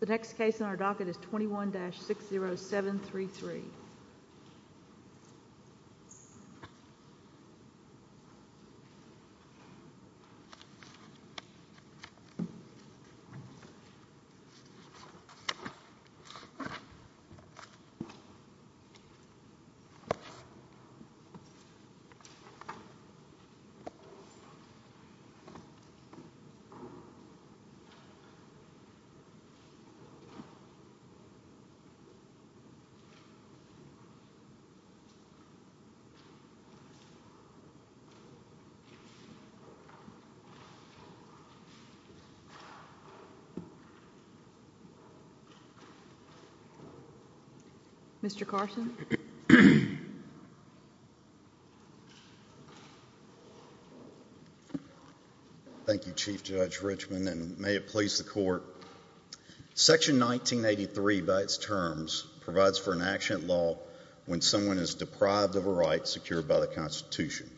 The next case on our docket is 21-60733. 21-60733 Mr. Carson Thank you, Chief Judge Richmond, and may it please the Court. Section 1983, by its terms, provides for an action at law when someone is deprived of a right secured by the Constitution.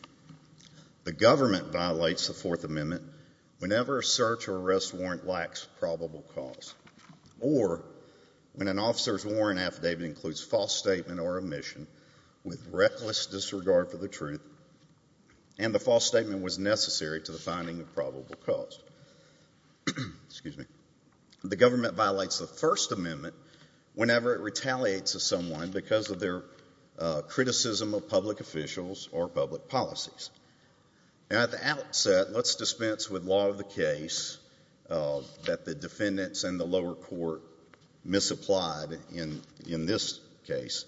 The government violates the Fourth Amendment whenever a search or arrest warrant lacks probable cause, or when an officer's warrant affidavit includes false statement or omission with reckless disregard for the truth and the false statement was necessary to the finding of probable cause. The government violates the First Amendment whenever it retaliates against someone because of their criticism of public officials or public policies. At the outset, let's dispense with law of the case that the defendants and the lower court misapplied in this case.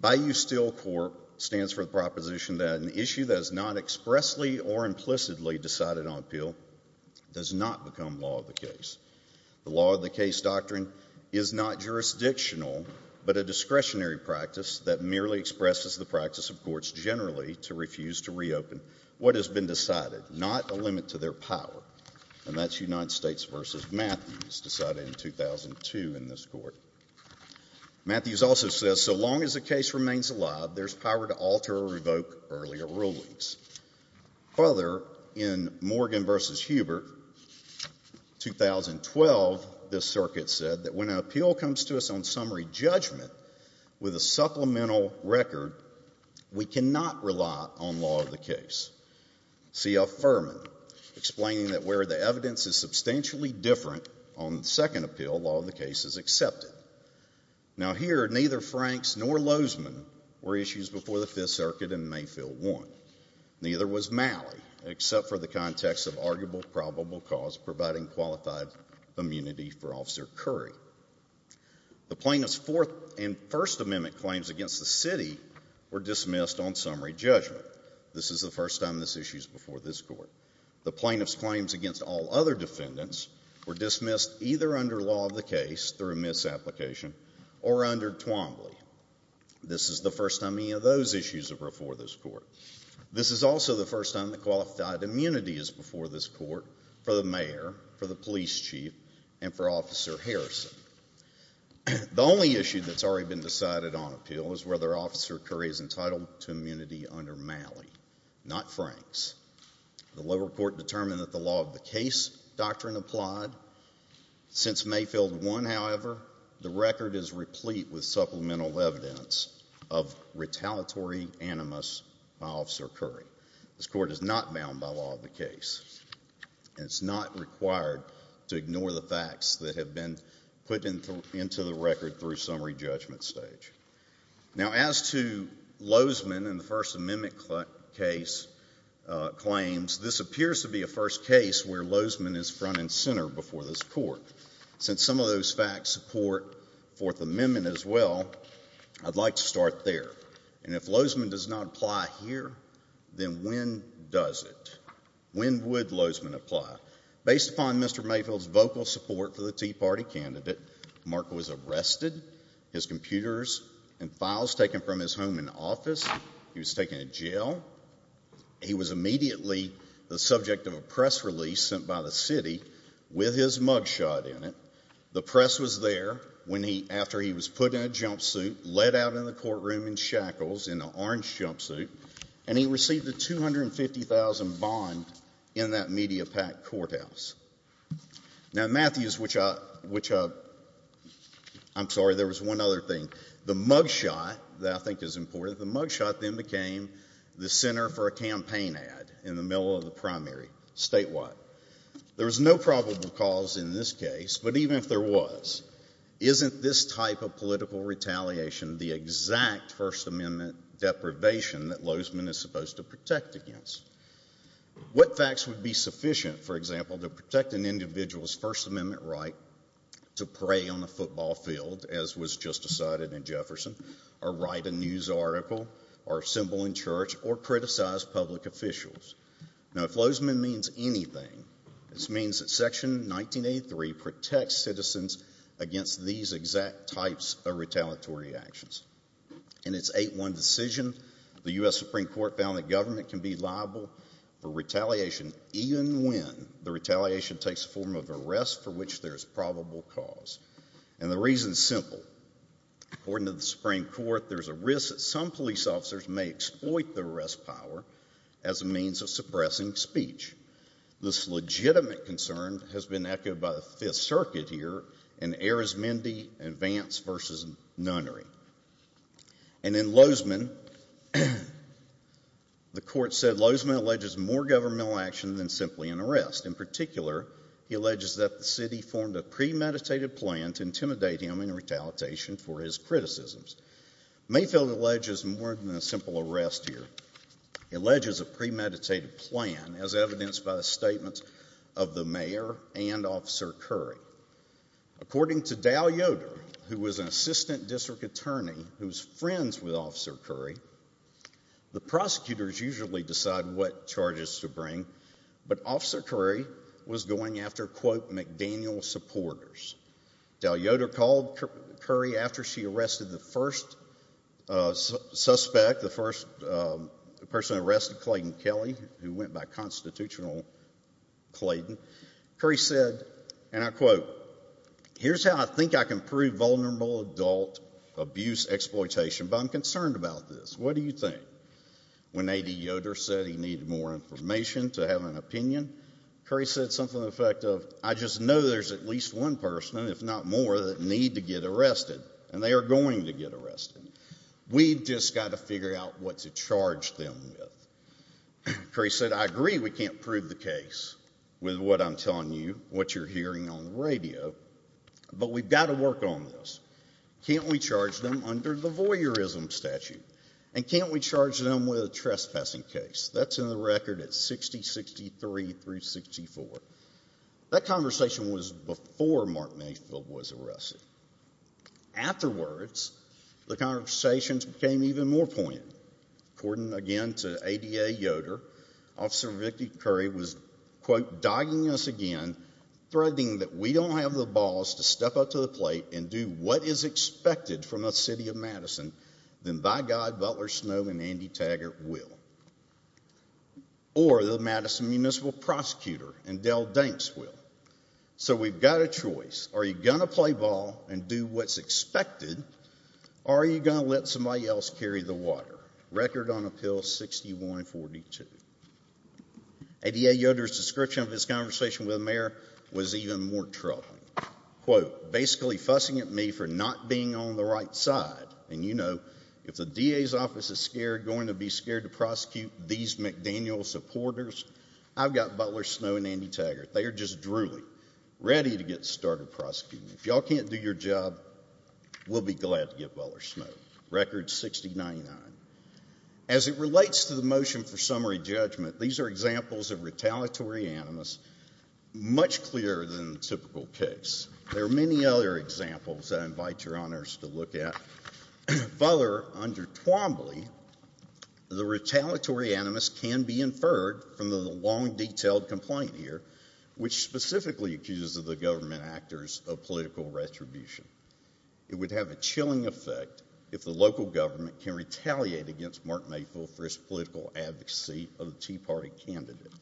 Bayou Steel Corp. stands for the proposition that an issue that is not expressly or implicitly decided on appeal does not become law of the case. The law of the case doctrine is not jurisdictional but a discretionary practice that merely expresses the practice of courts generally to refuse to reopen what has been decided, not a limit to their power. And that's United States v. Matthews, decided in 2002 in this Court. Matthews also says so long as the case remains alive, there's power to alter or revoke earlier rulings. Further, in Morgan v. Hubert, 2012, this circuit said that when an appeal comes to us on summary judgment with a supplemental record, we cannot rely on law of the case. C.F. Furman explained that where the evidence is substantially different on the second appeal, law of the case is accepted. Now here, neither Franks nor Lozman were issues before the Fifth Circuit in Mayfield 1. Neither was Malley, except for the context of arguable probable cause providing qualified immunity for Officer Curry. The plaintiff's Fourth and First Amendment claims against the city were dismissed on summary judgment. This is the first time this issue is before this Court. The plaintiff's claims against all other defendants were dismissed either under law of the case through misapplication or under Twombly. This is the first time any of those issues are before this Court. This is also the first time that qualified immunity is before this Court for the mayor, for the police chief, and for Officer Harrison. The only issue that's already been decided on appeal is whether Officer Curry is entitled to immunity under Malley, not Franks. The lower court determined that the law of the case doctrine applied. Since Mayfield 1, however, the record is replete with supplemental evidence of retaliatory animus by Officer Curry. This Court is not bound by law of the case, and it's not required to ignore the facts that have been put into the record through summary judgment stage. Now as to Lozman and the First Amendment case claims, this appears to be a first case where Lozman is front and center before this Court. Since some of those facts support Fourth Amendment as well, I'd like to start there. And if Lozman does not apply here, then when does it? When would Lozman apply? Based upon Mr. Mayfield's vocal support for the Tea Party candidate, Mark was arrested, his computers and files taken from his home and office, he was taken to jail, he was immediately the subject of a press release sent by the city with his mug shot in it. The press was there after he was put in a jumpsuit, let out in the courtroom in shackles in an orange jumpsuit, and he received a $250,000 bond in that media-packed courthouse. Now Matthews, which I'm sorry, there was one other thing. The mug shot that I think is important, the mug shot then became the center for a campaign ad in the middle of the primary statewide. There is no probable cause in this case, but even if there was, isn't this type of political retaliation the exact First Amendment deprivation that Lozman is supposed to protect against? What facts would be sufficient, for example, to protect an individual's First Amendment right to pray on a football field, as was just decided in Jefferson, or write a news article, or symbol in church, or criticize public officials? Now if Lozman means anything, it means that Section 1983 protects citizens against these exact types of retaliatory actions. In its 8-1 decision, the U.S. Supreme Court found that government can be liable for retaliation even when the retaliation takes the form of arrest for which there is probable cause. And the reason is simple. According to the Supreme Court, there is a risk that some police officers may exploit the arrest power as a means of suppressing speech. This legitimate concern has been echoed by the Fifth Circuit here in Arismendi v. Nunnery. And in Lozman, the court said Lozman alleges more governmental action than simply an arrest. In particular, he alleges that the city formed a premeditated plan to intimidate him in retaliation for his criticisms. Mayfield alleges more than a simple arrest here. He alleges a premeditated plan, as evidenced by the statements of the mayor and Officer Curry. According to Dow Yoder, who was an assistant district attorney who's friends with Officer Curry, the prosecutors usually decide what charges to bring, but Officer Curry was going after, quote, McDaniel supporters. Dow Yoder called Curry after she arrested the first suspect, the first person arrested, Clayton Kelly, who went by Constitutional Clayton. Curry said, and I quote, here's how I think I can prove vulnerable adult abuse exploitation, but I'm concerned about this. What do you think? When A.D. Yoder said he needed more information to have an opinion, Curry said something to the effect of, I just know there's at least one person, if not more, that need to get arrested, and they are going to get arrested. We've just got to figure out what to charge them with. Curry said, I agree we can't prove the case with what I'm telling you, what you're hearing on the radio, but we've got to work on this. Can't we charge them under the voyeurism statute, and can't we charge them with a trespassing case? That's in the record at 6063 through 64. That conversation was before Mark Mayfield was arrested. Afterwards, the conversations became even more poignant. According again to A.D. Yoder, Officer Victor Curry was, quote, dogging us again, threatening that we don't have the balls to step up to the plate and do what is expected from the DA, or the Madison Municipal Prosecutor, and Dell Danks will. So we've got a choice. Are you going to play ball and do what's expected, or are you going to let somebody else carry the water? Record on Appeal 6142. A.D. Yoder's description of his conversation with the mayor was even more troubling. Quote, basically fussing at me for not being on the right side, and you know, if the DA's office is going to be scared to prosecute these McDaniel supporters, I've got Butler Snow and Andy Taggart. They are just drooling, ready to get started prosecuting me. If y'all can't do your job, we'll be glad to get Butler Snow. Record 6099. As it relates to the motion for summary judgment, these are examples of retaliatory animus, much clearer than the typical case. There are many other examples I invite your honors to look at. Further, under Twombly, the retaliatory animus can be inferred from the long, detailed complaint here, which specifically accuses the government actors of political retribution. It would have a chilling effect if the local government can retaliate against Mark Mayfield for his political advocacy of a Tea Party candidate.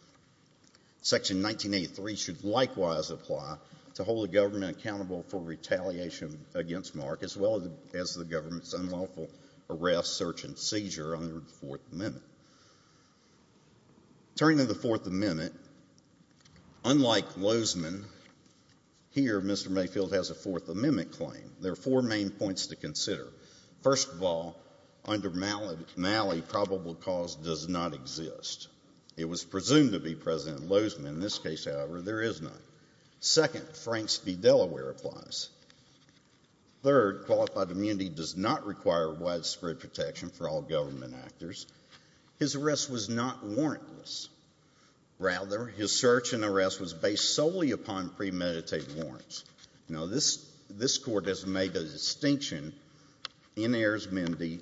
Section 1983 should likewise apply to hold the government accountable for retaliation against Mark, as well as the government's unlawful arrest, search, and seizure under the Fourth Amendment. Turning to the Fourth Amendment, unlike Lozman, here Mr. Mayfield has a Fourth Amendment claim. There are four main points to consider. First of all, under Malley, probable cause does not exist. It was presumed to be present in Lozman. In this case, however, there is none. Second, Franks v. Delaware applies. Third, qualified immunity does not require widespread protection for all government actors. His arrest was not warrantless. Rather, his search and arrest was based solely upon premeditated warrants. This Court has made a distinction in Ayers-Mendee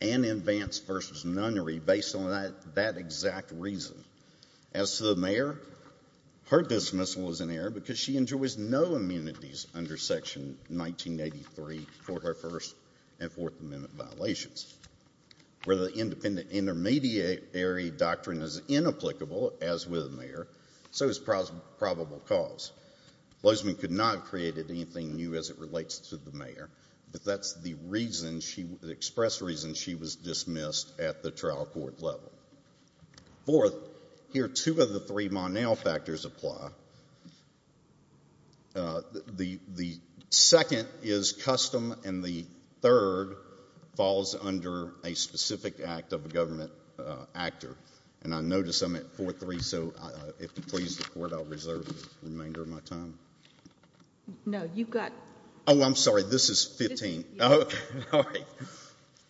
and in Vance v. Nunnery based on that exact reason. As to the mayor, her dismissal is in error because she enjoys no immunities under Section 1983 for her First and Fourth Amendment violations. Where the independent intermediary doctrine is inapplicable, as with the mayor, so is probable cause. Lozman could not have created anything new as it relates to the mayor, but that's the express reason she was dismissed at the trial court level. Fourth, here two of the three Monel factors apply. The second is custom, and the third falls under a specific act of a government actor. And I notice I'm at 4-3, so if you please, the Court, I'll reserve the remainder of my time. No, you've got... Oh, I'm sorry. This is 15. Oh, okay. All right.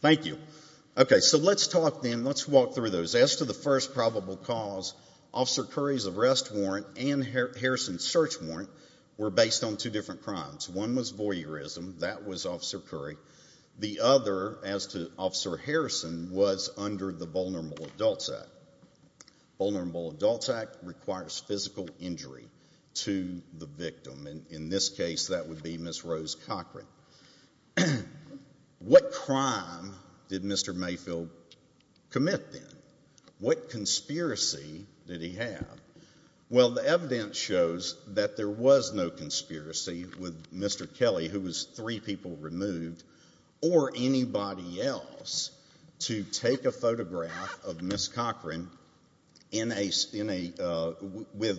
Thank you. Okay. So let's talk then, let's walk through those. As to the first probable cause, Officer Curry's arrest warrant and Harrison's search warrant were based on two different crimes. One was voyeurism, that was Officer Curry. The other, as to Officer Harrison, was under the Vulnerable Adults Act. Vulnerable Adults Act requires physical injury to the victim. In this case, that would be Ms. Rose Cochran. What crime did Mr. Mayfield commit then? What conspiracy did he have? Well, the evidence shows that there was no conspiracy with Mr. Kelly, who was three people removed, or anybody else, to take a photograph of Ms. Cochran with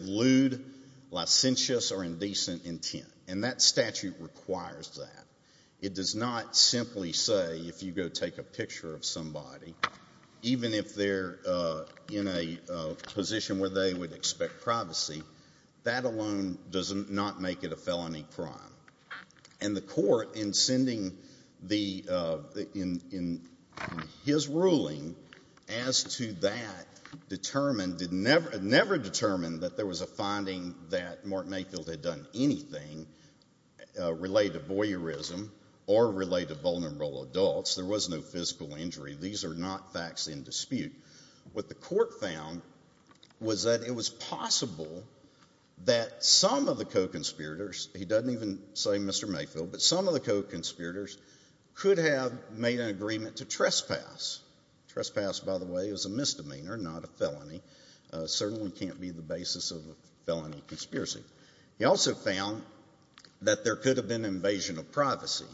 lewd, licentious, or indecent intent. And that statute requires that. It does not simply say, if you go take a picture of somebody, even if they're in a position where they would expect privacy, that alone does not make it a felony crime. And the court, in sending his ruling as to that, never determined that there was a finding that Mark Mayfield had done anything related to voyeurism or related to vulnerable adults. There was no physical injury. These are not facts in dispute. What the court found was that it was possible that some of the co-conspirators, he doesn't even say Mr. Mayfield, but some of the co-conspirators could have made an agreement to trespass. Trespass, by the way, is a misdemeanor, not a felony. It certainly can't be the basis of a felony conspiracy. He also found that there could have been invasion of privacy.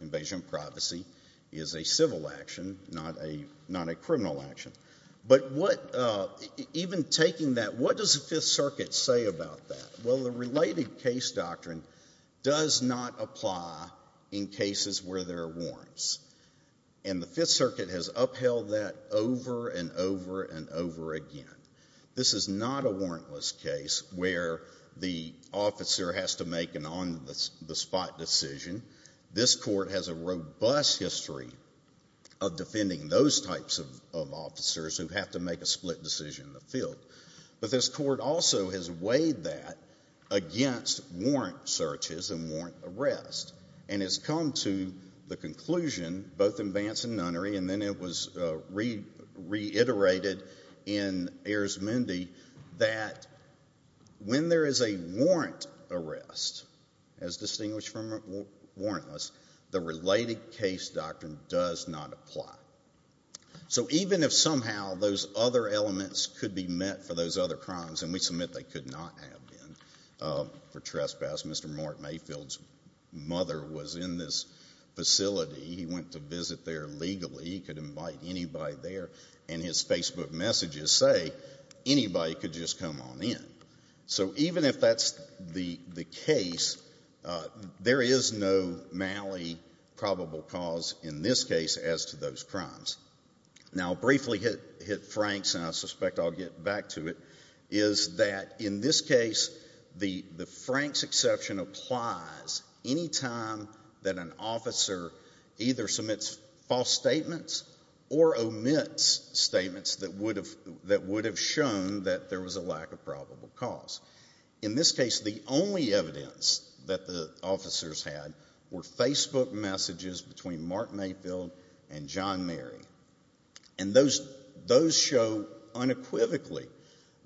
Invasion of privacy is a civil action, not a criminal action. But even taking that, what does the Fifth Circuit say about that? Well, the related case doctrine does not apply in cases where there are warrants. And the Fifth Circuit has upheld that over and over and over again. This is not a warrantless case where the officer has to make an on-the-spot decision. This court has a robust history of defending those types of officers who have to make a split decision in the field. But this court also has weighed that against warrant searches and warrant arrests, and has come to the conclusion, both in Vance and Nunnery, and then it was reiterated in Ayers Mundy, that when there is a warrant arrest, as distinguished from warrantless, the related case doctrine does not apply. So even if somehow those other elements could be met for those other crimes, and we submit they could not have been for trespass, Mr. Mark Mayfield's mother was in this facility, he went to visit there legally, he could invite anybody there, and his Facebook messages say, anybody could just come on in. So even if that's the case, there is no Malley probable cause, in this case, as to those crimes. Now, briefly hit Frank's, and I suspect I'll get back to it, is that in this case, the Frank's exception applies any time that an officer either submits false statements or omits statements that would have shown that there was a lack of probable cause. In this case, the only evidence that the officers had were Facebook messages between Mark Mayfield and John Mary, and those show unequivocally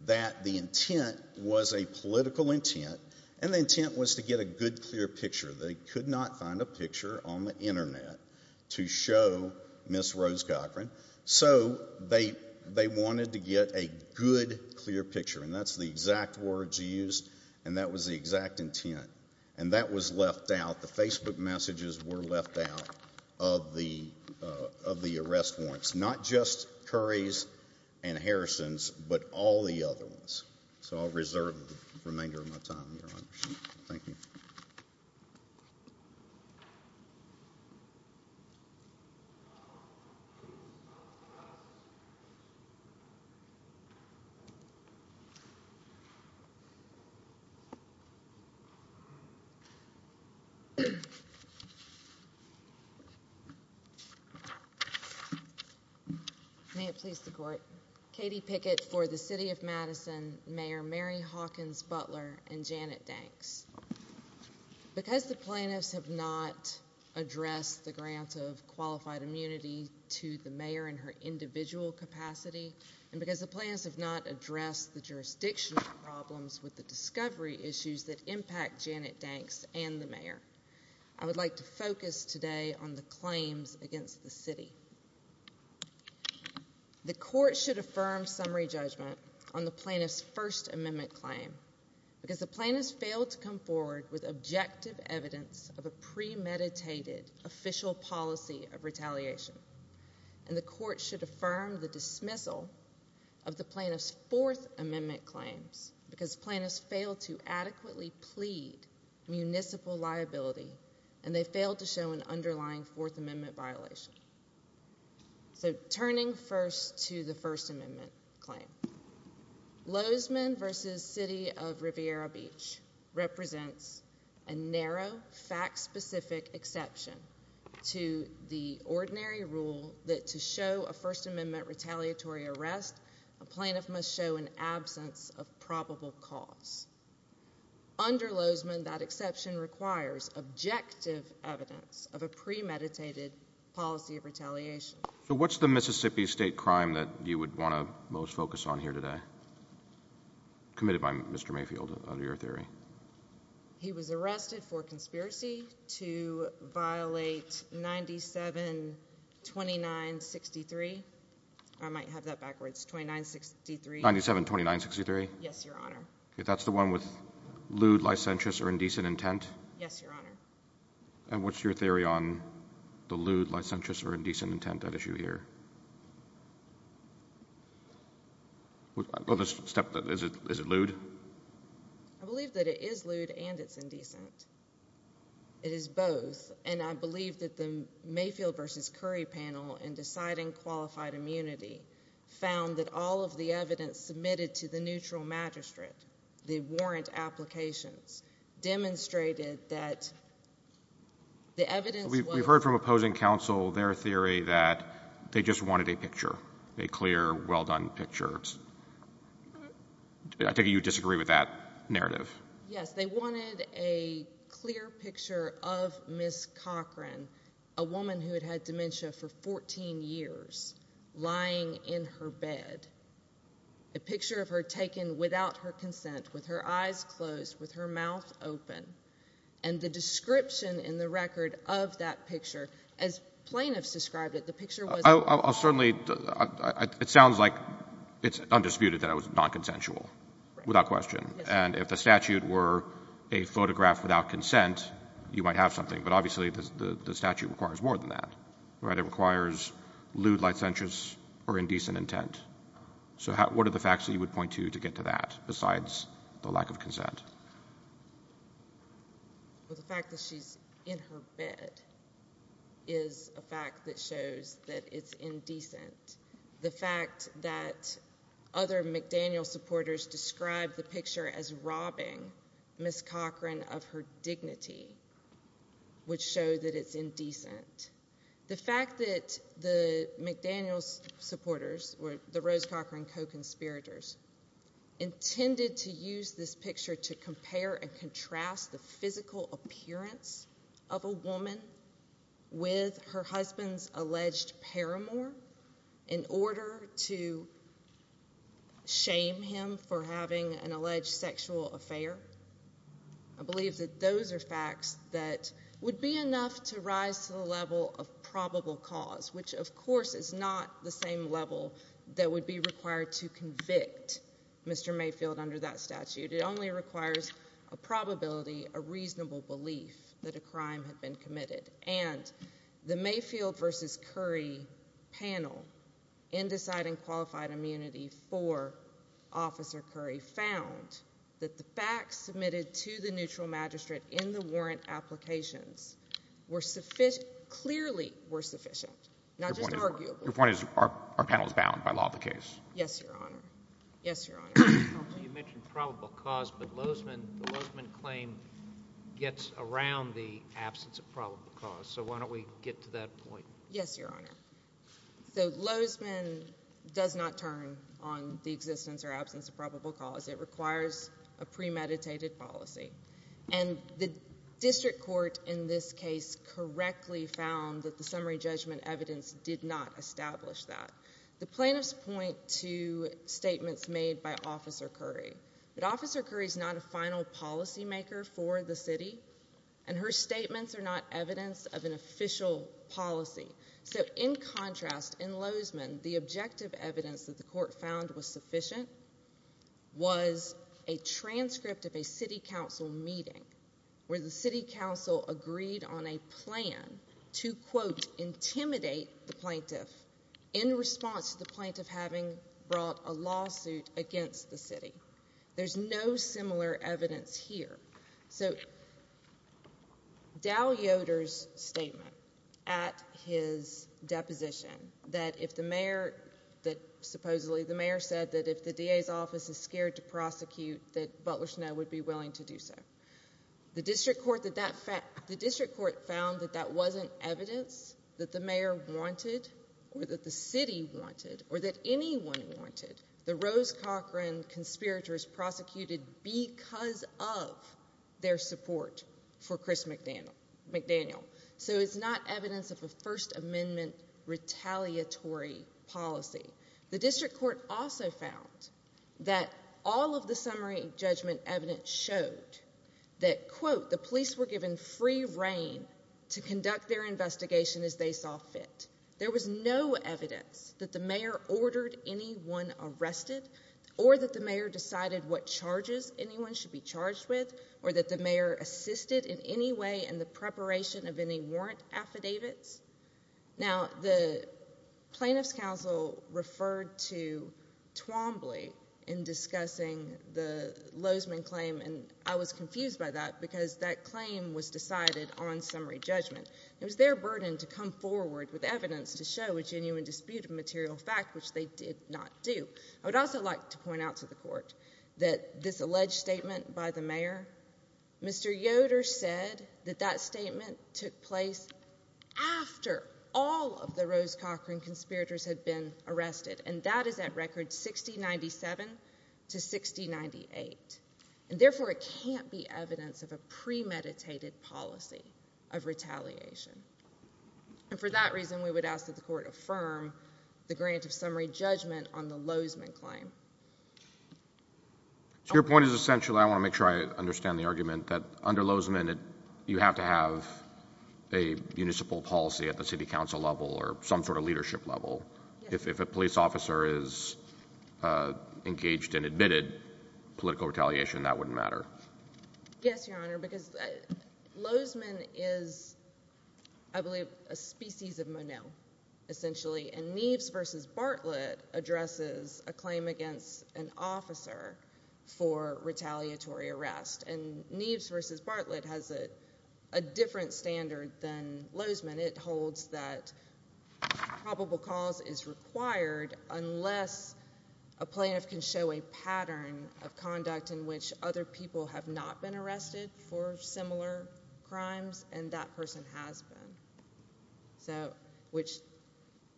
that the intent was a political intent, and the intent was to get a good, clear picture. They could not find a picture on the internet to show Ms. Rose Cochran, so they wanted to get a good, clear picture, and that's the exact words used, and that was the exact intent, and that was left out. The Facebook messages were left out of the arrest warrants. Not just Curry's and Harrison's, but all the other ones. So I'll reserve the remainder of my time, Your Honor. Thank you. May it please the Court. Katie Pickett for the City of Madison, Mayor Mary Hawkins Butler, and Janet Danks. Because the plaintiffs have not addressed the grant of qualified immunity to the mayor in her individual capacity, and because the plaintiffs have not addressed the jurisdictional problems with the discovery issues that impact Janet Danks and the mayor, I would like to focus today on the claims against the city. The court should affirm summary judgment on the plaintiff's First Amendment claim, because the plaintiffs failed to come forward with objective evidence of a premeditated official policy of retaliation, and the court should affirm the dismissal of the plaintiff's Fourth Amendment claims, because plaintiffs failed to adequately plead municipal liability, and they failed to show an underlying Fourth Amendment violation. So turning first to the First Amendment claim, Lozeman v. City of Riviera Beach represents a narrow, fact-specific exception to the ordinary rule that to show a First Amendment retaliatory arrest, a plaintiff must show an absence of probable cause. Under Lozeman, that exception requires objective evidence of a premeditated policy of retaliation. So what's the Mississippi state crime that you would want to most focus on here today, committed by Mr. Mayfield, under your theory? He was arrested for conspiracy to violate 972963. I might have that backwards, 2963. 972963? Yes, Your Honor. Okay, that's the one with lewd, licentious, or indecent intent? Yes, Your Honor. And what's your theory on the lewd, licentious, or indecent intent at issue here? Is it lewd? I believe that it is lewd and it's indecent. It is both, and I believe that the Mayfield v. Curry panel in deciding qualified immunity found that all of the evidence submitted to the neutral magistrate, the warrant applications, demonstrated that the evidence was... We've heard from opposing counsel their theory that they just wanted a picture, a clear, well-done picture. I think you disagree with that narrative. Yes, they wanted a clear picture of Ms. Cochran, a woman who had had dementia for 14 years, lying in her bed. A picture of her taken without her consent, with her eyes closed, with her mouth open. And the description in the record of that picture, as plaintiffs described it, the picture was... I'll certainly... It sounds like it's undisputed that it was non-consensual, without question. And if the statute were a photograph without consent, you might have something. But obviously, the statute requires more than that, right? It requires lewd licentious or indecent intent. So what are the facts that you would point to to get to that, besides the lack of consent? Well, the fact that she's in her bed is a fact that shows that it's indecent. The fact that other McDaniel supporters described the picture as robbing Ms. Cochran of her dignity, would show that it's indecent. The fact that the McDaniel supporters, or the Rose Cochran co-conspirators, intended to use this picture to compare and contrast the physical appearance of a woman with her husband's alleged paramour, in order to shame him for having an alleged sexual affair. I believe that those are facts that would be enough to rise to the level of probable cause, which, of course, is not the same level that would be required to convict Mr. Mayfield under that statute. It only requires a probability, a reasonable belief that a crime had been committed. And the Mayfield v. Curry panel, in deciding qualified immunity for Officer Curry, found that the facts submitted to the neutral magistrate in the warrant applications clearly were sufficient, not just arguable. Your point is, our panel is bound by law of the case. Yes, Your Honor. Yes, Your Honor. You mentioned probable cause, but the Lozman claim gets around the absence of probable cause, so why don't we get to that point? Yes, Your Honor. The Lozman does not turn on the existence or absence of probable cause. It requires a premeditated policy. And the district court, in this case, correctly found that the summary judgment evidence did not establish that. The plaintiffs point to statements made by Officer Curry. But Officer Curry's not a final policy maker for the city, and her statements are not evidence of an official policy. So in contrast, in Lozman, the objective evidence that the court found was sufficient was a transcript of a city council meeting, where the city council agreed on a plan to, quote, intimidate the plaintiff in response to the plaintiff having brought a lawsuit against the city. There's no similar evidence here. So Dow Yoder's statement at his deposition that if the mayor, that supposedly the mayor said that if the DA's office is scared to prosecute, that Butler Snow would be willing to do so. The district court found that that wasn't evidence that the mayor wanted or that the city wanted or that anyone wanted. The Rose Cochran conspirators prosecuted because of their support for Chris McDaniel, so it's not evidence of a First Amendment retaliatory policy. The district court also found that all of the summary judgment evidence showed that, quote, the police were given free reign to conduct their investigation as they saw fit. There was no evidence that the mayor ordered anyone arrested or that the mayor decided what charges anyone should be charged with or that the mayor assisted in any way in the preparation of any warrant affidavits. Now, the Plaintiff's Council referred to Twombly in discussing the Lozman claim, and I was confused by that because that claim was decided on summary judgment. It was their burden to come forward with evidence to show a genuine dispute of material fact, which they did not do. I would also like to point out to the court that this alleged statement by the mayor, Mr. Yoder said that that statement took place after all of the Rose Cochran conspirators had been arrested. And that is at record 6097 to 6098. And therefore, it can't be evidence of a premeditated policy of retaliation. And for that reason, we would ask that the court affirm the grant of summary judgment on the Lozman claim. So your point is essentially, I wanna make sure I understand the argument that under Lozman, you have to have a municipal policy at the city council level or some sort of leadership level. If a police officer is engaged and admitted, political retaliation, that wouldn't matter. Yes, your honor, because Lozman is, I believe, a species of Monet, essentially. And Neves versus Bartlett addresses a claim against an officer for retaliatory arrest. And Neves versus Bartlett has a different standard than Lozman. It holds that probable cause is required unless a plaintiff can show a pattern of conduct in which other people have not been arrested for similar crimes, and that person has been. So, which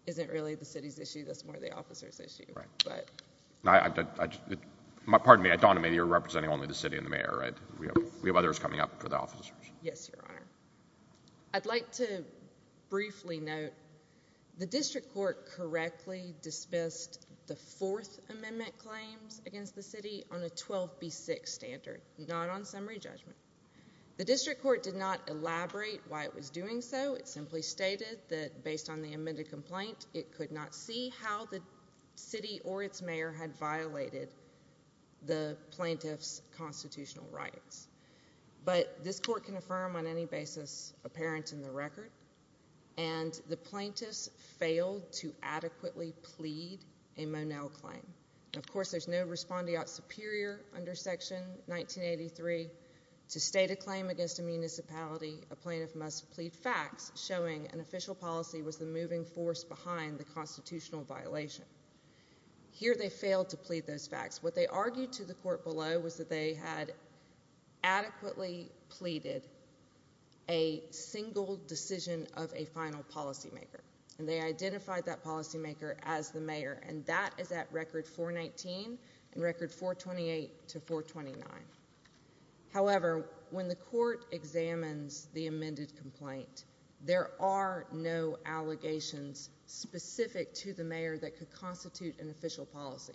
isn't really the city's issue, that's more the officer's issue, but. Pardon me, I thought maybe you're representing only the city and the mayor, right? We have others coming up for the officers. Yes, your honor. I'd like to briefly note, the district court correctly dispensed the fourth amendment claims against the city on a 12B6 standard, not on summary judgment. The district court did not elaborate why it was doing so. It simply stated that based on the amended complaint, it could not see how the city or its mayor had violated the plaintiff's constitutional rights. But this court can affirm on any basis apparent in the record, and the plaintiffs failed to adequately plead a Monell claim. Of course, there's no respondeat superior under section 1983. To state a claim against a municipality, a plaintiff must plead facts showing an official policy was the moving force behind the constitutional violation. Here they failed to plead those facts. What they argued to the court below was that they had adequately pleaded a single decision of a final policymaker. And they identified that policymaker as the mayor, and that is at record 419 and record 428 to 429. However, when the court examines the amended complaint, there are no allegations specific to the mayor that could constitute an official policy.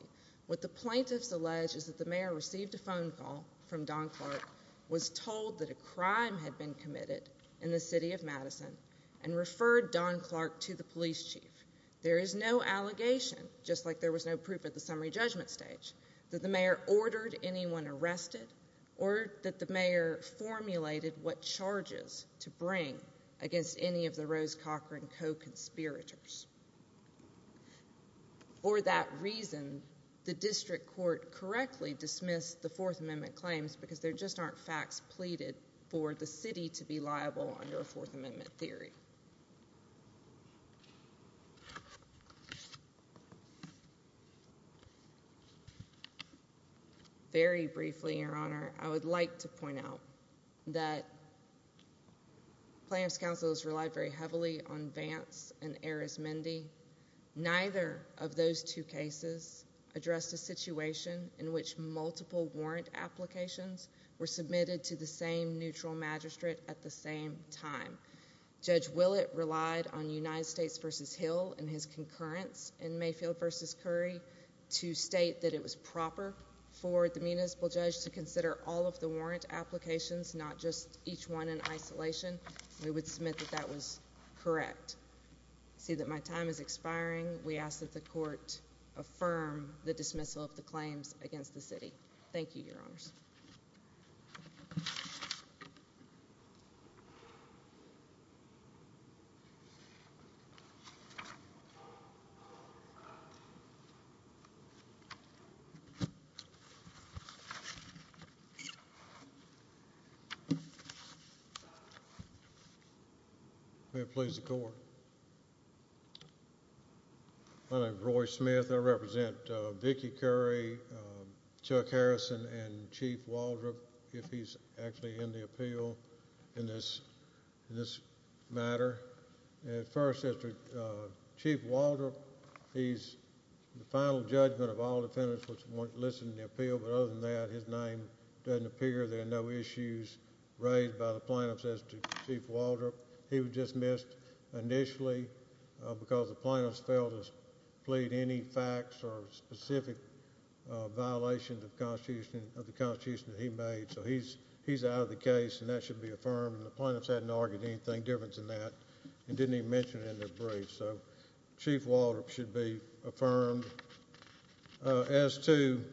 What the plaintiffs allege is that the mayor received a phone call from Don Clark, was told that a crime had been committed in the city of Madison, and referred Don Clark to the police chief. There is no allegation, just like there was no proof at the summary judgment stage, that the mayor ordered anyone arrested, or that the mayor formulated what charges to bring against any of the Rose Cochran co-conspirators. For that reason, the district court correctly dismissed the Fourth Amendment claims because there just aren't facts pleaded for the city to be liable under a Fourth Amendment theory. Very briefly, Your Honor, I would like to point out that Plaintiff's counsel has relied very heavily on Vance and Harris-Mendy, neither of those two cases addressed a situation in which multiple warrant applications were submitted to the same neutral magistrate at the same time. Judge Willett relied on United States versus Hill and his concurrence in Mayfield versus Curry to state that it was proper for the municipal judge to consider all of the warrant applications, not just each one in isolation. We would submit that that was correct. I see that my time is expiring. We ask that the court affirm the dismissal of the claims against the city. May it please the court. My name is Roy Smith. I represent Vicki Curry, Chuck Harrison, and Chief Waldrop. If he's actually in the appeal in this matter. At first, Chief Waldrop, he's the final judgment of all defendants which weren't listed in the appeal, but other than that, his name doesn't appear. There are no issues raised by the plaintiffs as to Chief Waldrop. He was dismissed initially because the plaintiffs failed to plead any facts or specific violations of the Constitution that he made. So he's out of the case and that should be affirmed. The plaintiffs hadn't argued anything different than that and didn't even mention it in their brief. So Chief Waldrop should be affirmed. As to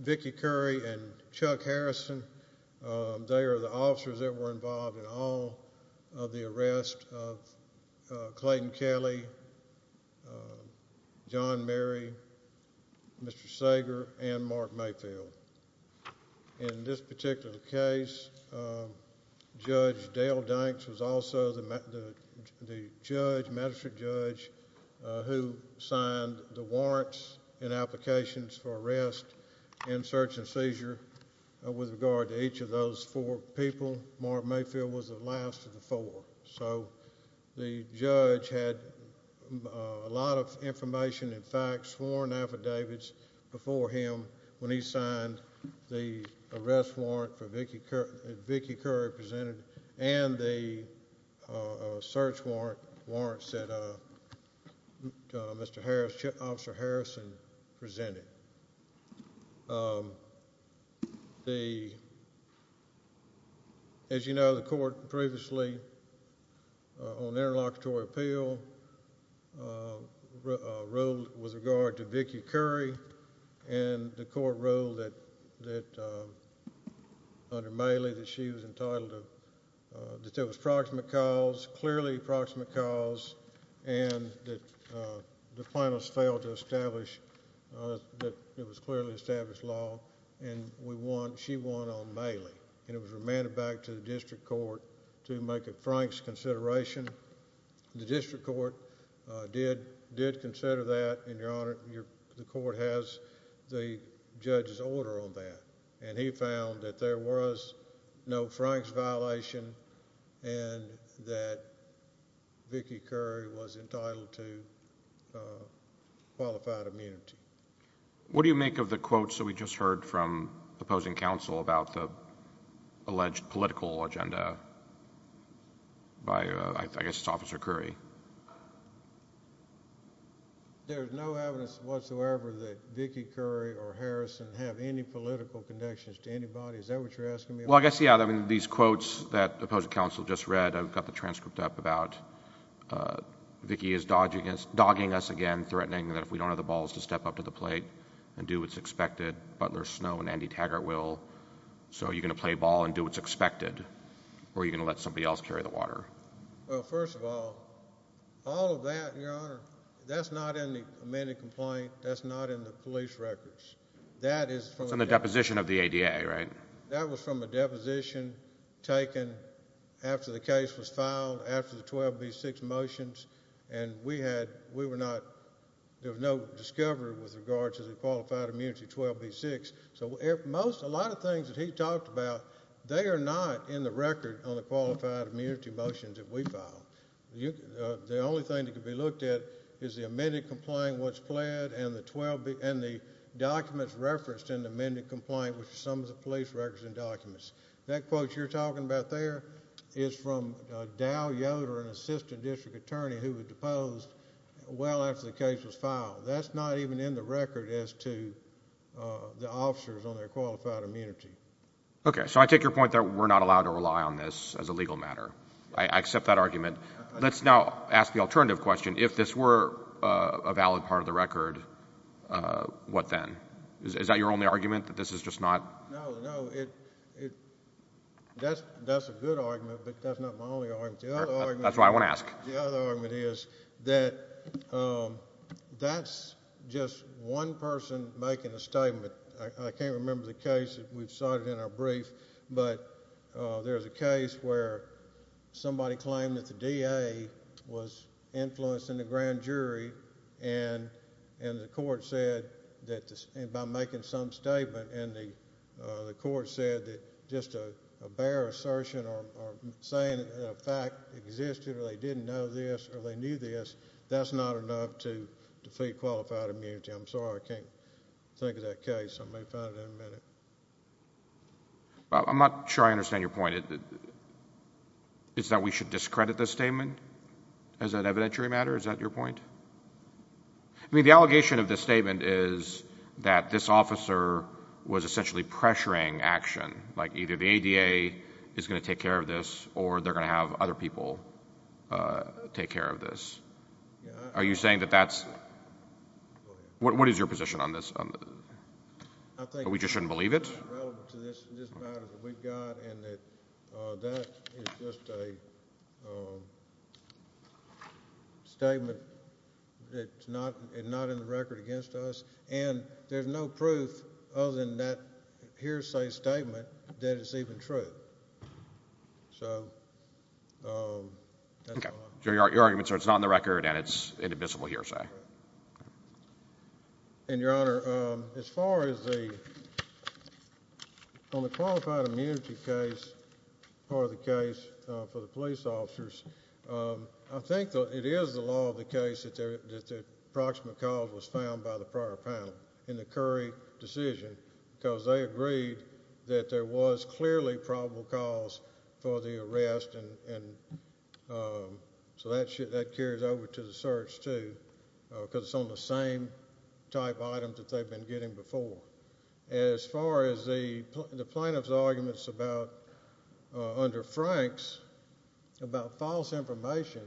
Vicki Curry and Chuck Harrison, they are the officers that were involved in all of the arrest of Clayton Kelly, John Mary, Mr. Sager, and Mark Mayfield. In this particular case, Judge Dale Danks was also the judge, magistrate judge, who signed the warrants and applications for arrest and search and seizure with regard to each of those four people. Mark Mayfield was the last of the four. So the judge had a lot of information and facts, sworn affidavits before him when he signed the arrest warrant that Vicki Curry presented and the search warrants that Mr. Harrison, Officer Harrison presented. As you know, the court previously on interlocutory appeal ruled with regard to Vicki Curry and the court ruled that under Mailey that she was entitled to, that there was proximate cause, that it was clearly established law and we want, she won on Mailey and it was remanded back to the district court to make a Franks consideration. The district court did consider that and, Your Honor, the court has the judge's order on that and he found that there was no Franks violation and that Vicki Curry was entitled to qualified immunity. What do you make of the quotes that we just heard from opposing counsel about the alleged political agenda by, I guess it's Officer Curry? There's no evidence whatsoever that Vicki Curry or Harrison have any political connections to anybody. Is that what you're asking me? Well, I guess, yeah, I mean, these quotes that opposing counsel just read, I've got the transcript up about Vicki is dogging us again, threatening that if we don't have the balls to step up to the plate and do what's expected, Butler Snow and Andy Taggart will. So are you going to play ball and do what's expected or are you going to let somebody else carry the water? Well, first of all, all of that, Your Honor, that's not in the amended complaint. That's not in the police records. That is from the deposition of the ADA, right? That was from a deposition taken after the case was filed after the 12B6 motions and we were not, there was no discovery with regards to the qualified immunity 12B6. So a lot of things that he talked about, they are not in the record on the qualified immunity motions that we filed. The only thing that could be looked at is the amended complaint, what's pled, and the documents referenced in the amended complaint, which is some of the police records and documents. That quote you're talking about there is from Dow Yoder, an assistant district attorney who was deposed well after the case was filed. That's not even in the record as to the officers on their qualified immunity. Okay, so I take your point that we're not allowed to rely on this as a legal matter. I accept that argument. Let's now ask the alternative question. If this were a valid part of the record, what then? Is that your only argument, that this is just not? No, no, it, that's a good argument, but that's not my only argument. The other argument. That's why I want to ask. The other argument is that that's just one person making a statement. I can't remember the case that we've cited in our brief, but there's a case where somebody claimed that the DA was influencing the grand jury and the court said that by making some statement and the court said that just a bare assertion or saying that a fact existed or they didn't know this or they knew this, that's not enough to defeat qualified immunity. I'm sorry, I can't think of that case. I may find it in a minute. I'm not sure I understand your point. Is that we should discredit this statement as an evidentiary matter? Is that your point? I mean, the allegation of this statement is that this officer was essentially pressuring action. Like either the ADA is going to take care of this or they're going to have other people take care of this. Are you saying that that's, what is your position on this? That we just shouldn't believe it? It's not relevant to this matter that we've got and that that is just a statement that's not in the record against us and there's no proof other than that hearsay statement that it's even true. So, that's all I'm saying. Okay, so your argument is it's not in the record and it's an invisible hearsay. And your Honor, as far as the, on the qualified immunity case, part of the case for the police officers, I think that it is the law of the case that the approximate cause was found by the prior panel in the Curry decision because they agreed that there was clearly probable cause for the arrest and so that carries over to the search too because it's on the same type of item that they've been getting before. As far as the plaintiff's arguments about, under Frank's, about false information,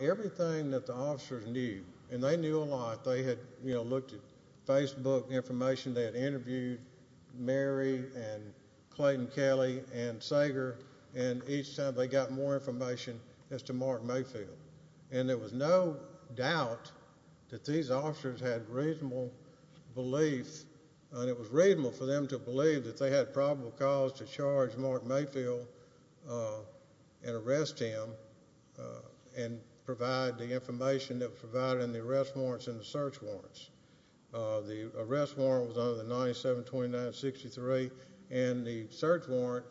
everything that the officers knew, and they knew a lot. They had, you know, looked at Facebook information. They had interviewed Mary and Clayton Kelly and Sager and each time they got more information as to Mark Mayfield. And there was no doubt that these officers had reasonable belief and it was reasonable for them to believe that they had probable cause to charge Mark Mayfield and arrest him and provide the information that was provided in the arrest warrants and the search warrants. The arrest warrant was under the 97-29-63 and the search warrant,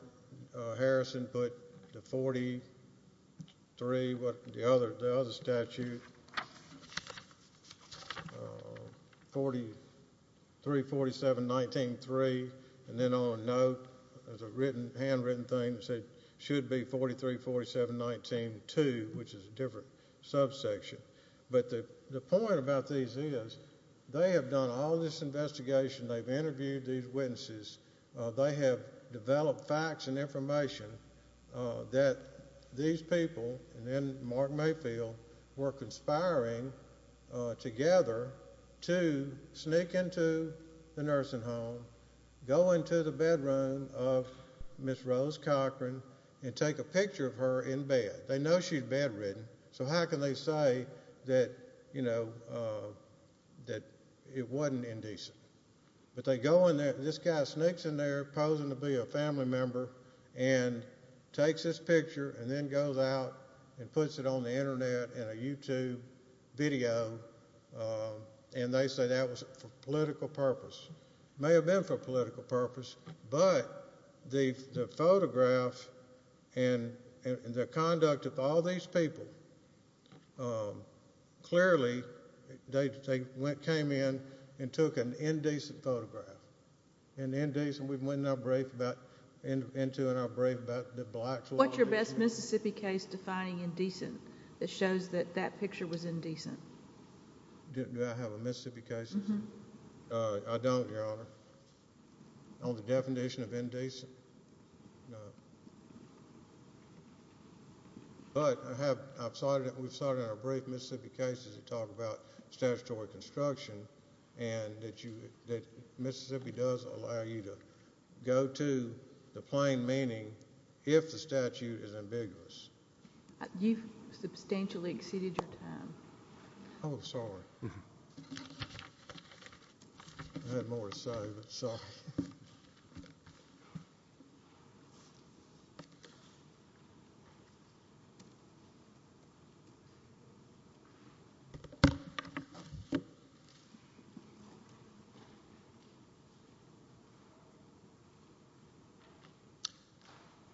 Harrison, put the 43, what the other statute, 43-47-19-3, and then on a note, there's a written, handwritten thing that said it should be 43-47-19-2, which is a different subsection. But the point about these is they have done all this investigation. They've interviewed these witnesses. They have developed facts and information that these people and then Mark Mayfield were conspiring together to sneak into the nursing home, go into the bedroom of Ms. Rose Cochran and take a picture of her in bed. They know she's bedridden. So how can they say that, you know, that it wasn't indecent? But they go in there, this guy sneaks in there posing to be a family member and takes this picture and then goes out and puts it on the internet in a YouTube video. And they say that was for political purpose. May have been for political purpose, but the photograph and the conduct of all these people clearly they came in and took an indecent photograph. And indecent, we went into our brief about the black law. What's your best Mississippi case defining indecent that shows that that picture was indecent? Do I have a Mississippi case? I don't, Your Honor. On the definition of indecent? No. But I have, I've cited, we've cited in our brief Mississippi cases that talk about statutory construction and that you, that Mississippi does allow you to go to the plain meaning if the statute is ambiguous. You've substantially exceeded your time. Oh, sorry. I had more to say, but sorry.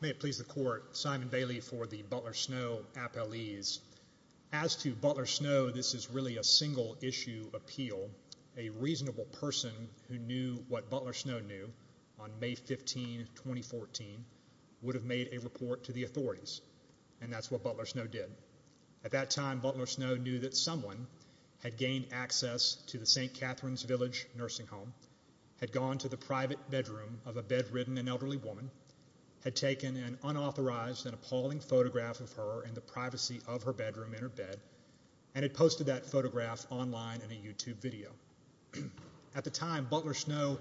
May it please the court, Simon Bailey for the Butler-Snow appellees. As to Butler-Snow, this is really a single issue appeal. A reasonable person who knew what Butler-Snow knew on May 15, 2014 would have made a report to the authorities. And that's what Butler-Snow did. At that time, Butler-Snow knew that someone had gained access to the St. Catherine's Village nursing home, had gone to the private bedroom of a bedridden and elderly woman, had taken an unauthorized and appalling photograph of her in the privacy of her bedroom in her bed, and had posted that photograph online in a YouTube video. At the time, Butler-Snow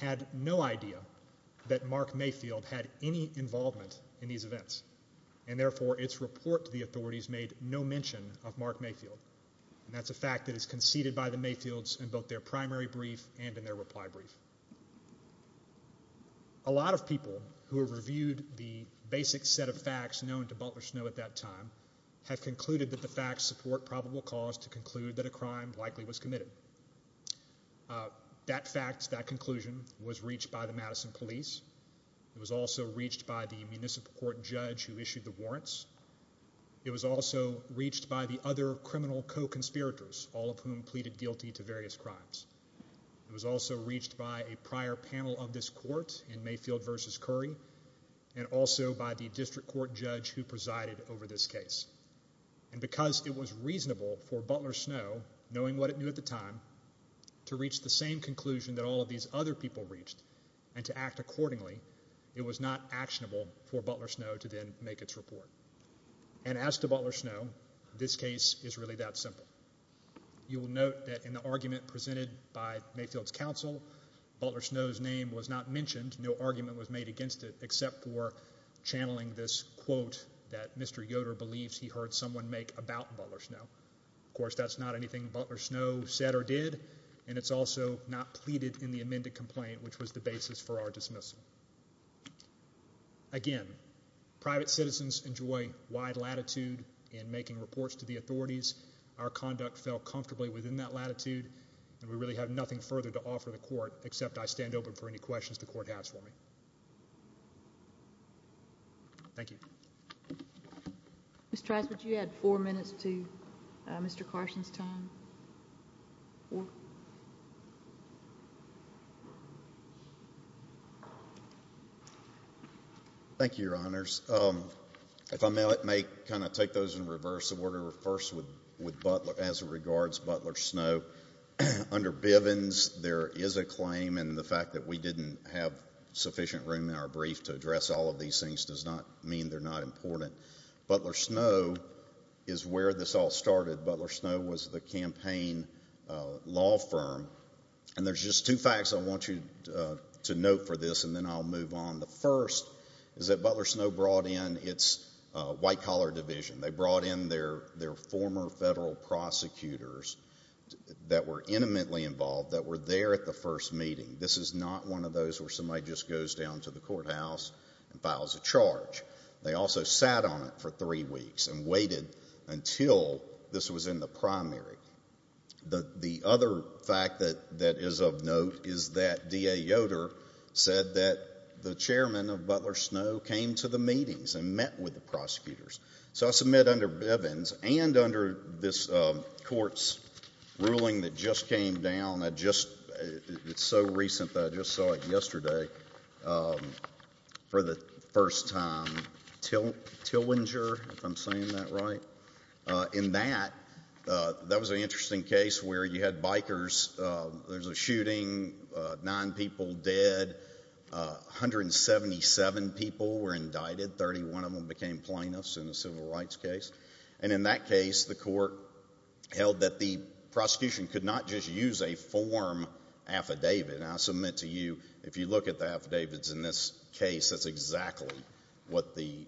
had no idea that Mark Mayfield had any involvement in these events, and therefore, its report to the authorities made no mention of Mark Mayfield. And that's a fact that is conceded by the Mayfields in both their primary brief and in their reply brief. A lot of people who have reviewed the basic set of facts known to Butler-Snow at that time have concluded that the facts support probable cause to conclude that a crime likely was committed. That fact, that conclusion, was reached by the Madison police. It was also reached by the municipal court judge who issued the warrants. It was also reached by the other criminal co-conspirators, all of whom pleaded guilty to various crimes. It was also reached by a prior panel of this court in Mayfield versus Curry, and also by the district court judge who presided over this case. And because it was reasonable for Butler-Snow, knowing what it knew at the time, to reach the same conclusion that all of these other people reached, and to act accordingly, it was not actionable for Butler-Snow to then make its report. And as to Butler-Snow, this case is really that simple. You will note that in the argument presented by Mayfield's counsel, Butler-Snow's name was not mentioned. No argument was made against it except for channeling this quote that Mr. Yoder believes he heard someone make about Butler-Snow. Of course, that's not anything Butler-Snow said or did, and it's also not pleaded in the amended complaint, which was the basis for our dismissal. Again, private citizens enjoy wide latitude in making reports to the authorities. Our conduct fell comfortably within that latitude, and we really have nothing further to offer the court except I stand open for any questions the court has for me. Thank you. Mr. Trice, would you add four minutes to Mr. Carson's time? Four? Thank you, Your Honors. If I may, I may kind of take those in reverse order first with Butler, as it regards Butler-Snow. Under Bivens, there is a claim, and the fact that we didn't have sufficient room in our brief to address all of these things does not mean they're not important. Butler-Snow is where this all started. Butler-Snow was the campaign law firm, and there's just two facts I want you to note for this, and then I'll move on. The first is that Butler-Snow brought in its white-collar division. They brought in their former federal prosecutors that were intimately involved, that were there at the first meeting. This is not one of those where somebody just goes down to the courthouse and files a charge. They also sat on it for three weeks and waited until this was in the primary. The other fact that is of note is that D.A. Yoder said that the chairman of Butler-Snow came to the meetings and met with the prosecutors. So, I submit under Bivens and under this court's ruling that just came down, it's so recent that I just saw it yesterday, for the first time, Tillinger, if I'm saying that right. In that, that was an interesting case where you had bikers, there was a shooting, nine people dead, 177 people were indicted, 31 of them became plaintiffs, in a civil rights case, and in that case, the court held that the prosecution could not just use a form affidavit. And I submit to you, if you look at the affidavits in this case, that's exactly what the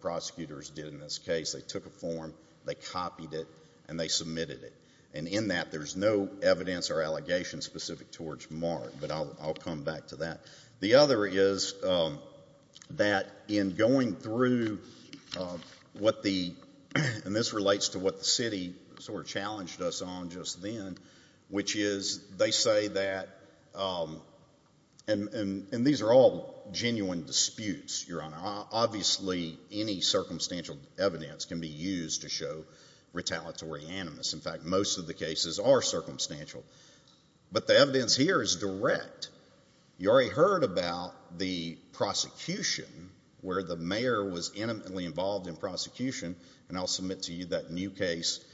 prosecutors did in this case. They took a form, they copied it, and they submitted it. And in that, there's no evidence or allegation specific towards Mark, but I'll come back to that. The other is that in going through what the, and this relates to what the city sort of challenged us on just then, which is they say that, and these are all genuine disputes, Your Honor, obviously any circumstantial evidence can be used to show retaliatory animus. In fact, most of the cases are circumstantial. But the evidence here is direct. You already heard about the prosecution, where the mayor was intimately involved in prosecution, and I'll submit to you that new case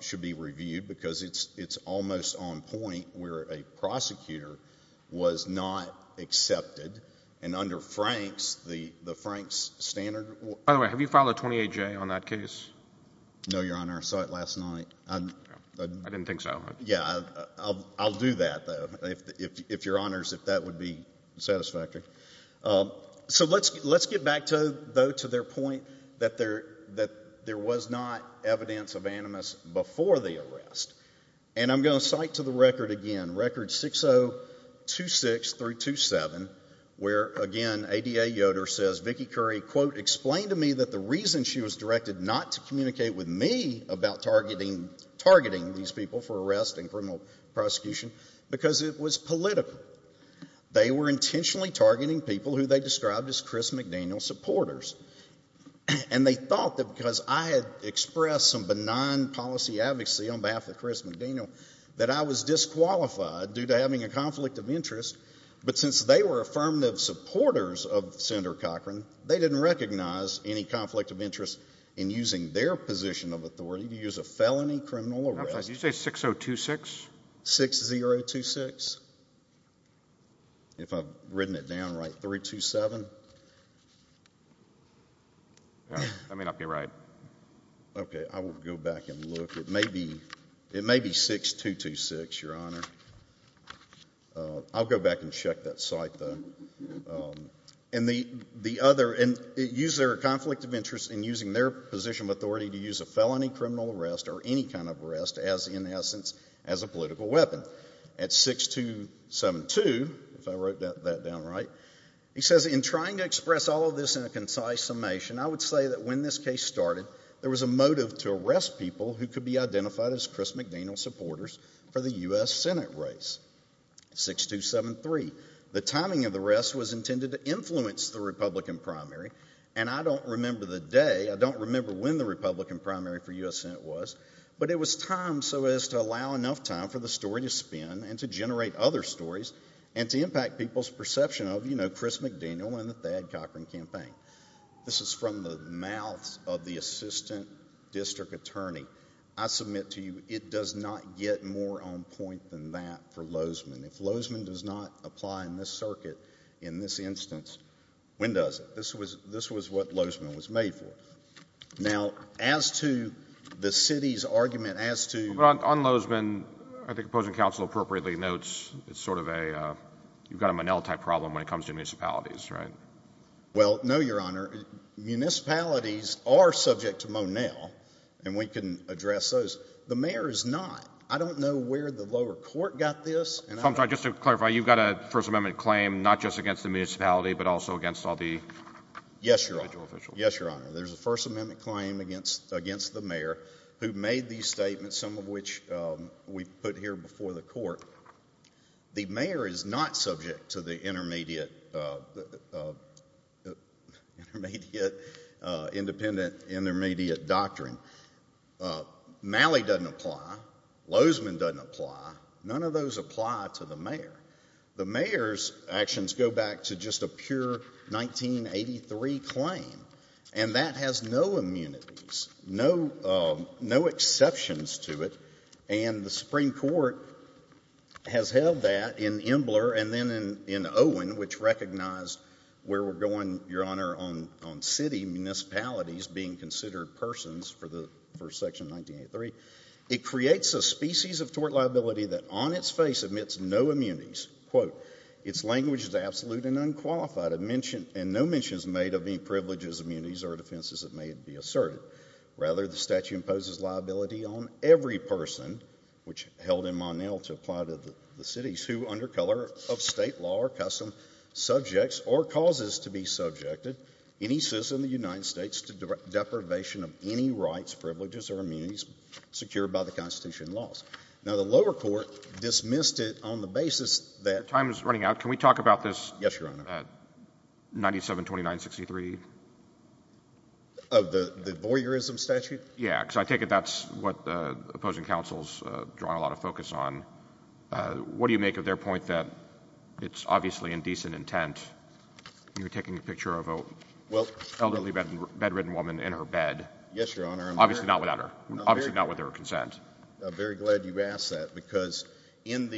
should be reviewed, because it's almost on point where a prosecutor was not accepted, and under Frank's, the Frank's standard. By the way, have you filed a 28-J on that case? No, Your Honor, I saw it last night. I didn't think so. Yeah, I'll do that, though. If Your Honors, if that would be satisfactory. So let's get back, though, to their point that there was not evidence of animus before the arrest. And I'm going to cite to the record again, record 6026-327, where again, ADA Yoder says, Vicki Curry, quote, explained to me that the reason she was directed not to communicate with me about targeting these people for arrest and criminal prosecution, because it was political. They were intentionally targeting people who they described as Chris McDaniel supporters. And they thought that because I had expressed some benign policy advocacy on behalf of Chris McDaniel, that I was disqualified due to having a conflict of interest. But since they were affirmative supporters of Senator Cochran, they didn't recognize any conflict of interest in using their position of authority to use a felony criminal arrest. Did you say 6026? 6026? If I've written it down right, 327? I may not be right. Okay, I will go back and look. It may be 6226, Your Honor. I'll go back and check that site, though. And the other, and use their conflict of interest in using their position of authority to use a felony criminal arrest or any kind of arrest as, in essence, as a political weapon. At 6272, if I wrote that down right, he says, in trying to express all of this in a concise summation, I would say that when this case started, there was a motive to arrest people who could be identified as Chris McDaniel supporters for the U.S. Senate race. 6273, the timing of the arrest was intended to influence the Republican primary. And I don't remember the day, I don't remember when the Republican primary for U.S. Senate was, but it was timed so as to allow enough time for the story to spin and to generate other stories and to impact people's perception of, you know, Chris McDaniel and the Thad Cochran campaign. This is from the mouth of the assistant district attorney. I submit to you, it does not get more on point than that for Lozeman. If Lozeman does not apply in this circuit, in this instance, when does it? This was what Lozeman was made for. Now, as to the city's argument as to— But on Lozeman, I think opposing counsel appropriately notes, it's sort of a, you've got a Monell-type problem when it comes to municipalities, right? Well, no, Your Honor. Municipalities are subject to Monell, and we can address those. The mayor is not. I don't know where the lower court got this— I'm sorry, just to clarify, you've got a First Amendment claim, not just against the municipality, but also against all the individual officials? Yes, Your Honor. Yes, Your Honor. There's a First Amendment claim against the mayor who made these statements, some of which we've put here before the court. The mayor is not subject to the intermediate, independent, intermediate doctrine. Malley doesn't apply. Lozeman doesn't apply. None of those apply to the mayor. The mayor's actions go back to just a pure 1983 claim, and that has no immunities, no exceptions to it. And the Supreme Court has held that in Embler and then in Owen, which recognized where we're going, Your Honor, on city municipalities being considered persons for Section 1983. It creates a species of tort liability that on its face admits no immunities. Its language is absolute and unqualified, and no mention is made of any privileges, immunities, or defenses that may be asserted. Rather, the statute imposes liability on every person, which held in Monell to apply to the cities, who under color of state law or custom subjects or causes to be subjected any citizen of the United States to deprivation of any rights, privileges, or immunities secured by the Constitution and laws. Now, the lower court dismissed it on the basis that— Time is running out. Can we talk about this— Yes, Your Honor. —at 972963? Of the voyeurism statute? Yeah, because I take it that's what the opposing counsel is drawing a lot of focus on. What do you make of their point that it's obviously in decent intent? You're taking a picture of an elderly bedridden woman in her bed. Yes, Your Honor. Obviously not without her—obviously not with their consent. I'm very glad you asked that, because in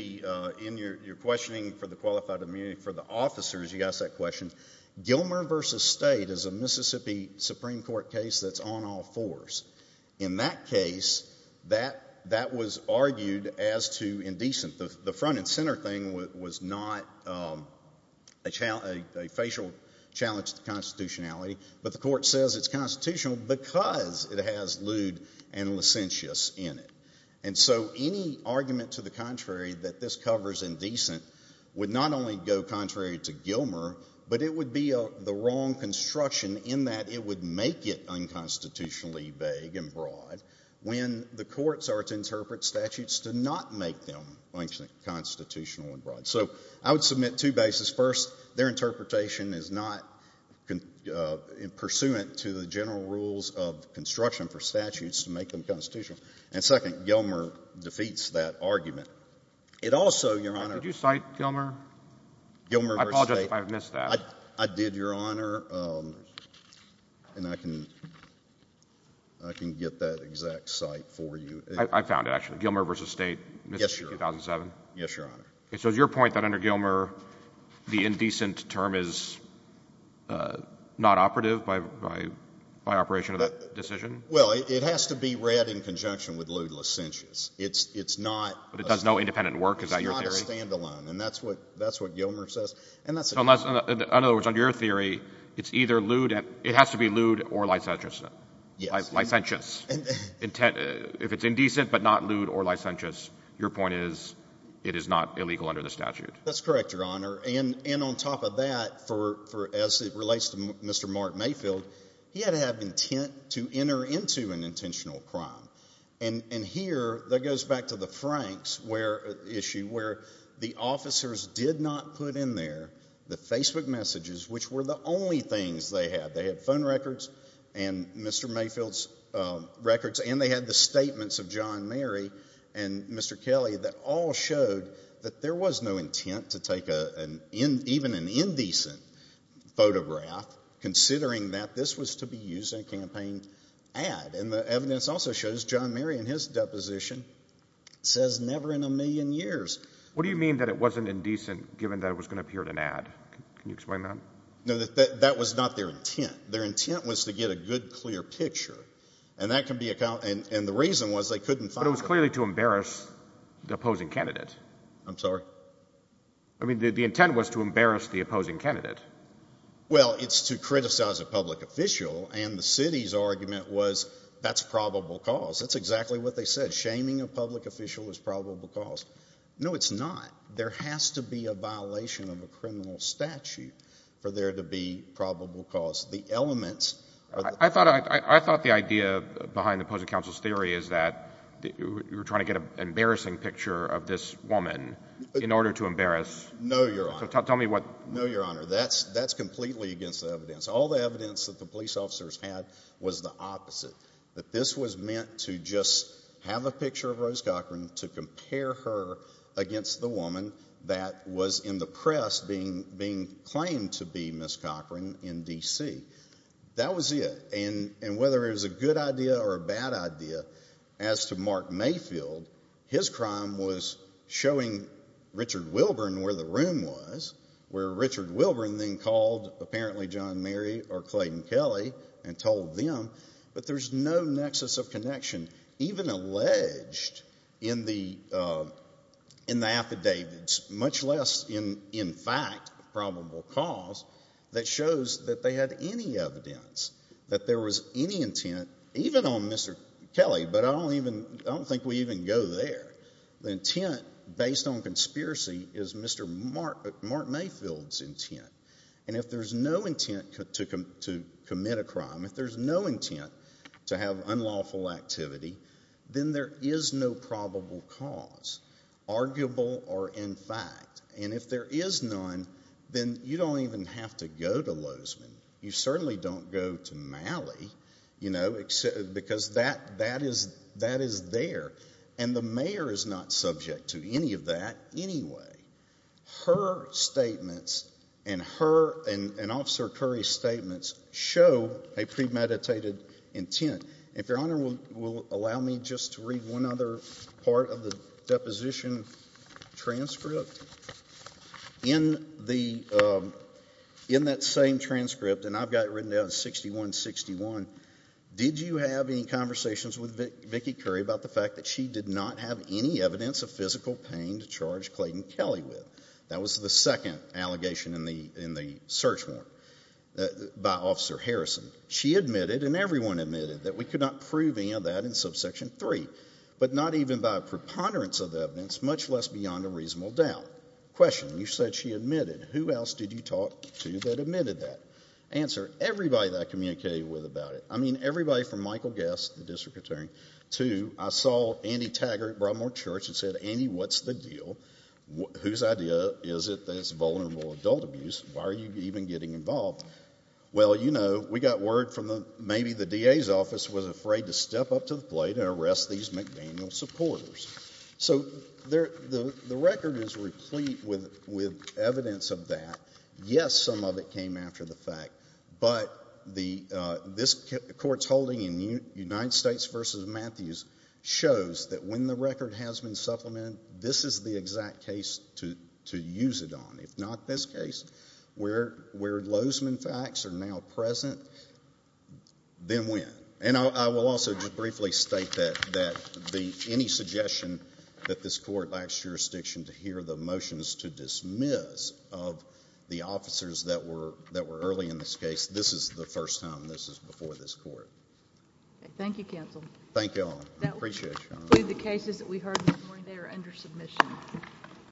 your questioning for the qualified immunity for the officers, you asked that question. Gilmer v. State is a Mississippi Supreme Court case that's on all fours. In that case, that was argued as too indecent. The front and center thing was not a facial challenge to constitutionality, but the court says it's constitutional because it has lewd and licentious in it. And so any argument to the contrary that this covers indecent would not only go contrary to Gilmer, but it would be the wrong construction in that it would make it unconstitutionally vague and broad when the courts are to interpret statutes to not make them constitutional and broad. So I would submit two bases. First, their interpretation is not pursuant to the general rules of construction for statutes to make them constitutional. And second, Gilmer defeats that argument. It also, Your Honor— Did you cite Gilmer? Gilmer v. State. I apologize if I've missed that. I did, Your Honor, and I can get that exact cite for you. I found it, actually. Gilmer v. State, Mississippi, 2007. Yes, Your Honor. And so is your point that under Gilmer, the indecent term is not operative by operation of that decision? Well, it has to be read in conjunction with lewd and licentious. It's not— But it does no independent work? Is that your theory? It's not a standalone. And that's what Gilmer says. And that's— So in other words, under your theory, it's either lewd — it has to be lewd or licentious. Yes. Licentious. Intent— If it's indecent but not lewd or licentious, your point is it is not illegal under the statute. That's correct, Your Honor. And on top of that, as it relates to Mr. Mark Mayfield, he had to have intent to enter into an intentional crime. And here, that goes back to the Franks issue where the officers did not put in there the Facebook messages, which were the only things they had. They had phone records and Mr. Mayfield's records, and they had the statements of John Mary and Mr. Kelly that all showed that there was no intent to take even an indecent photograph considering that this was to be used in a campaign ad. And the evidence also shows John Mary in his deposition says never in a million years. What do you mean that it wasn't indecent given that it was going to appear in an ad? Can you explain that? No, that was not their intent. Their intent was to get a good, clear picture, and the reason was they couldn't find— But it was clearly to embarrass the opposing candidate. I'm sorry? I mean, the intent was to embarrass the opposing candidate. Well, it's to criticize a public official, and the city's argument was that's probable cause. That's exactly what they said. Shaming a public official is probable cause. No, it's not. There has to be a violation of a criminal statute for there to be probable cause. The elements— I thought the idea behind the opposing counsel's theory is that you're trying to get an embarrassing picture of this woman in order to embarrass— No, Your Honor. So tell me what— No, Your Honor. That's completely against the evidence. All the evidence that the police officers had was the opposite, that this was meant to just have a picture of Rose Cochran to compare her against the woman that was in the press being claimed to be Ms. Cochran in D.C. That was it, and whether it was a good idea or a bad idea, as to Mark Mayfield, his crime was showing Richard Wilburn where the room was, where Richard Wilburn then called apparently John Mary or Clayton Kelly and told them, but there's no nexus of connection, even alleged in the affidavits, much less in fact probable cause, that shows that they had any evidence that there was any intent, even on Mr. Kelly, but I don't think we even go there. The intent, based on conspiracy, is Mr. Mark Mayfield's intent, and if there's no intent to commit a crime, if there's no intent to have unlawful activity, then there is no probable cause, arguable or in fact, and if there is none, then you don't even have to go to Lozman. You certainly don't go to Malley, you know, because that is there, and the mayor is not subject to any of that anyway. Her statements and her and Officer Curry's statements show a premeditated intent. If Your Honor will allow me just to read one other part of the deposition transcript. In that same transcript, and I've got it written down as 6161, did you have any conversations with Vicki Curry about the fact that she did not have any evidence of physical pain to do with? That was the second allegation in the search warrant by Officer Harrison. She admitted, and everyone admitted, that we could not prove any of that in subsection three, but not even by a preponderance of the evidence, much less beyond a reasonable doubt. Question. You said she admitted. Who else did you talk to that admitted that? Answer. Everybody that I communicated with about it. I mean, everybody from Michael Guess, the district attorney, to I saw Andy Taggart at the time, and I said, well, whose idea is it that it's vulnerable adult abuse? Why are you even getting involved? Well, you know, we got word from maybe the DA's office was afraid to step up to the plate and arrest these McDaniel supporters. So the record is replete with evidence of that. Yes, some of it came after the fact, but this court's holding in United States v. Matthews shows that when the record has been supplemented, this is the exact case to use it on. If not this case, where Lozman facts are now present, then when? And I will also just briefly state that any suggestion that this court lacks jurisdiction to hear the motions to dismiss of the officers that were early in this case, this is the first time this is before this court. Okay. Thank you, counsel. Thank you all. I appreciate it, Your Honor. The cases that we heard this morning, they are under submission.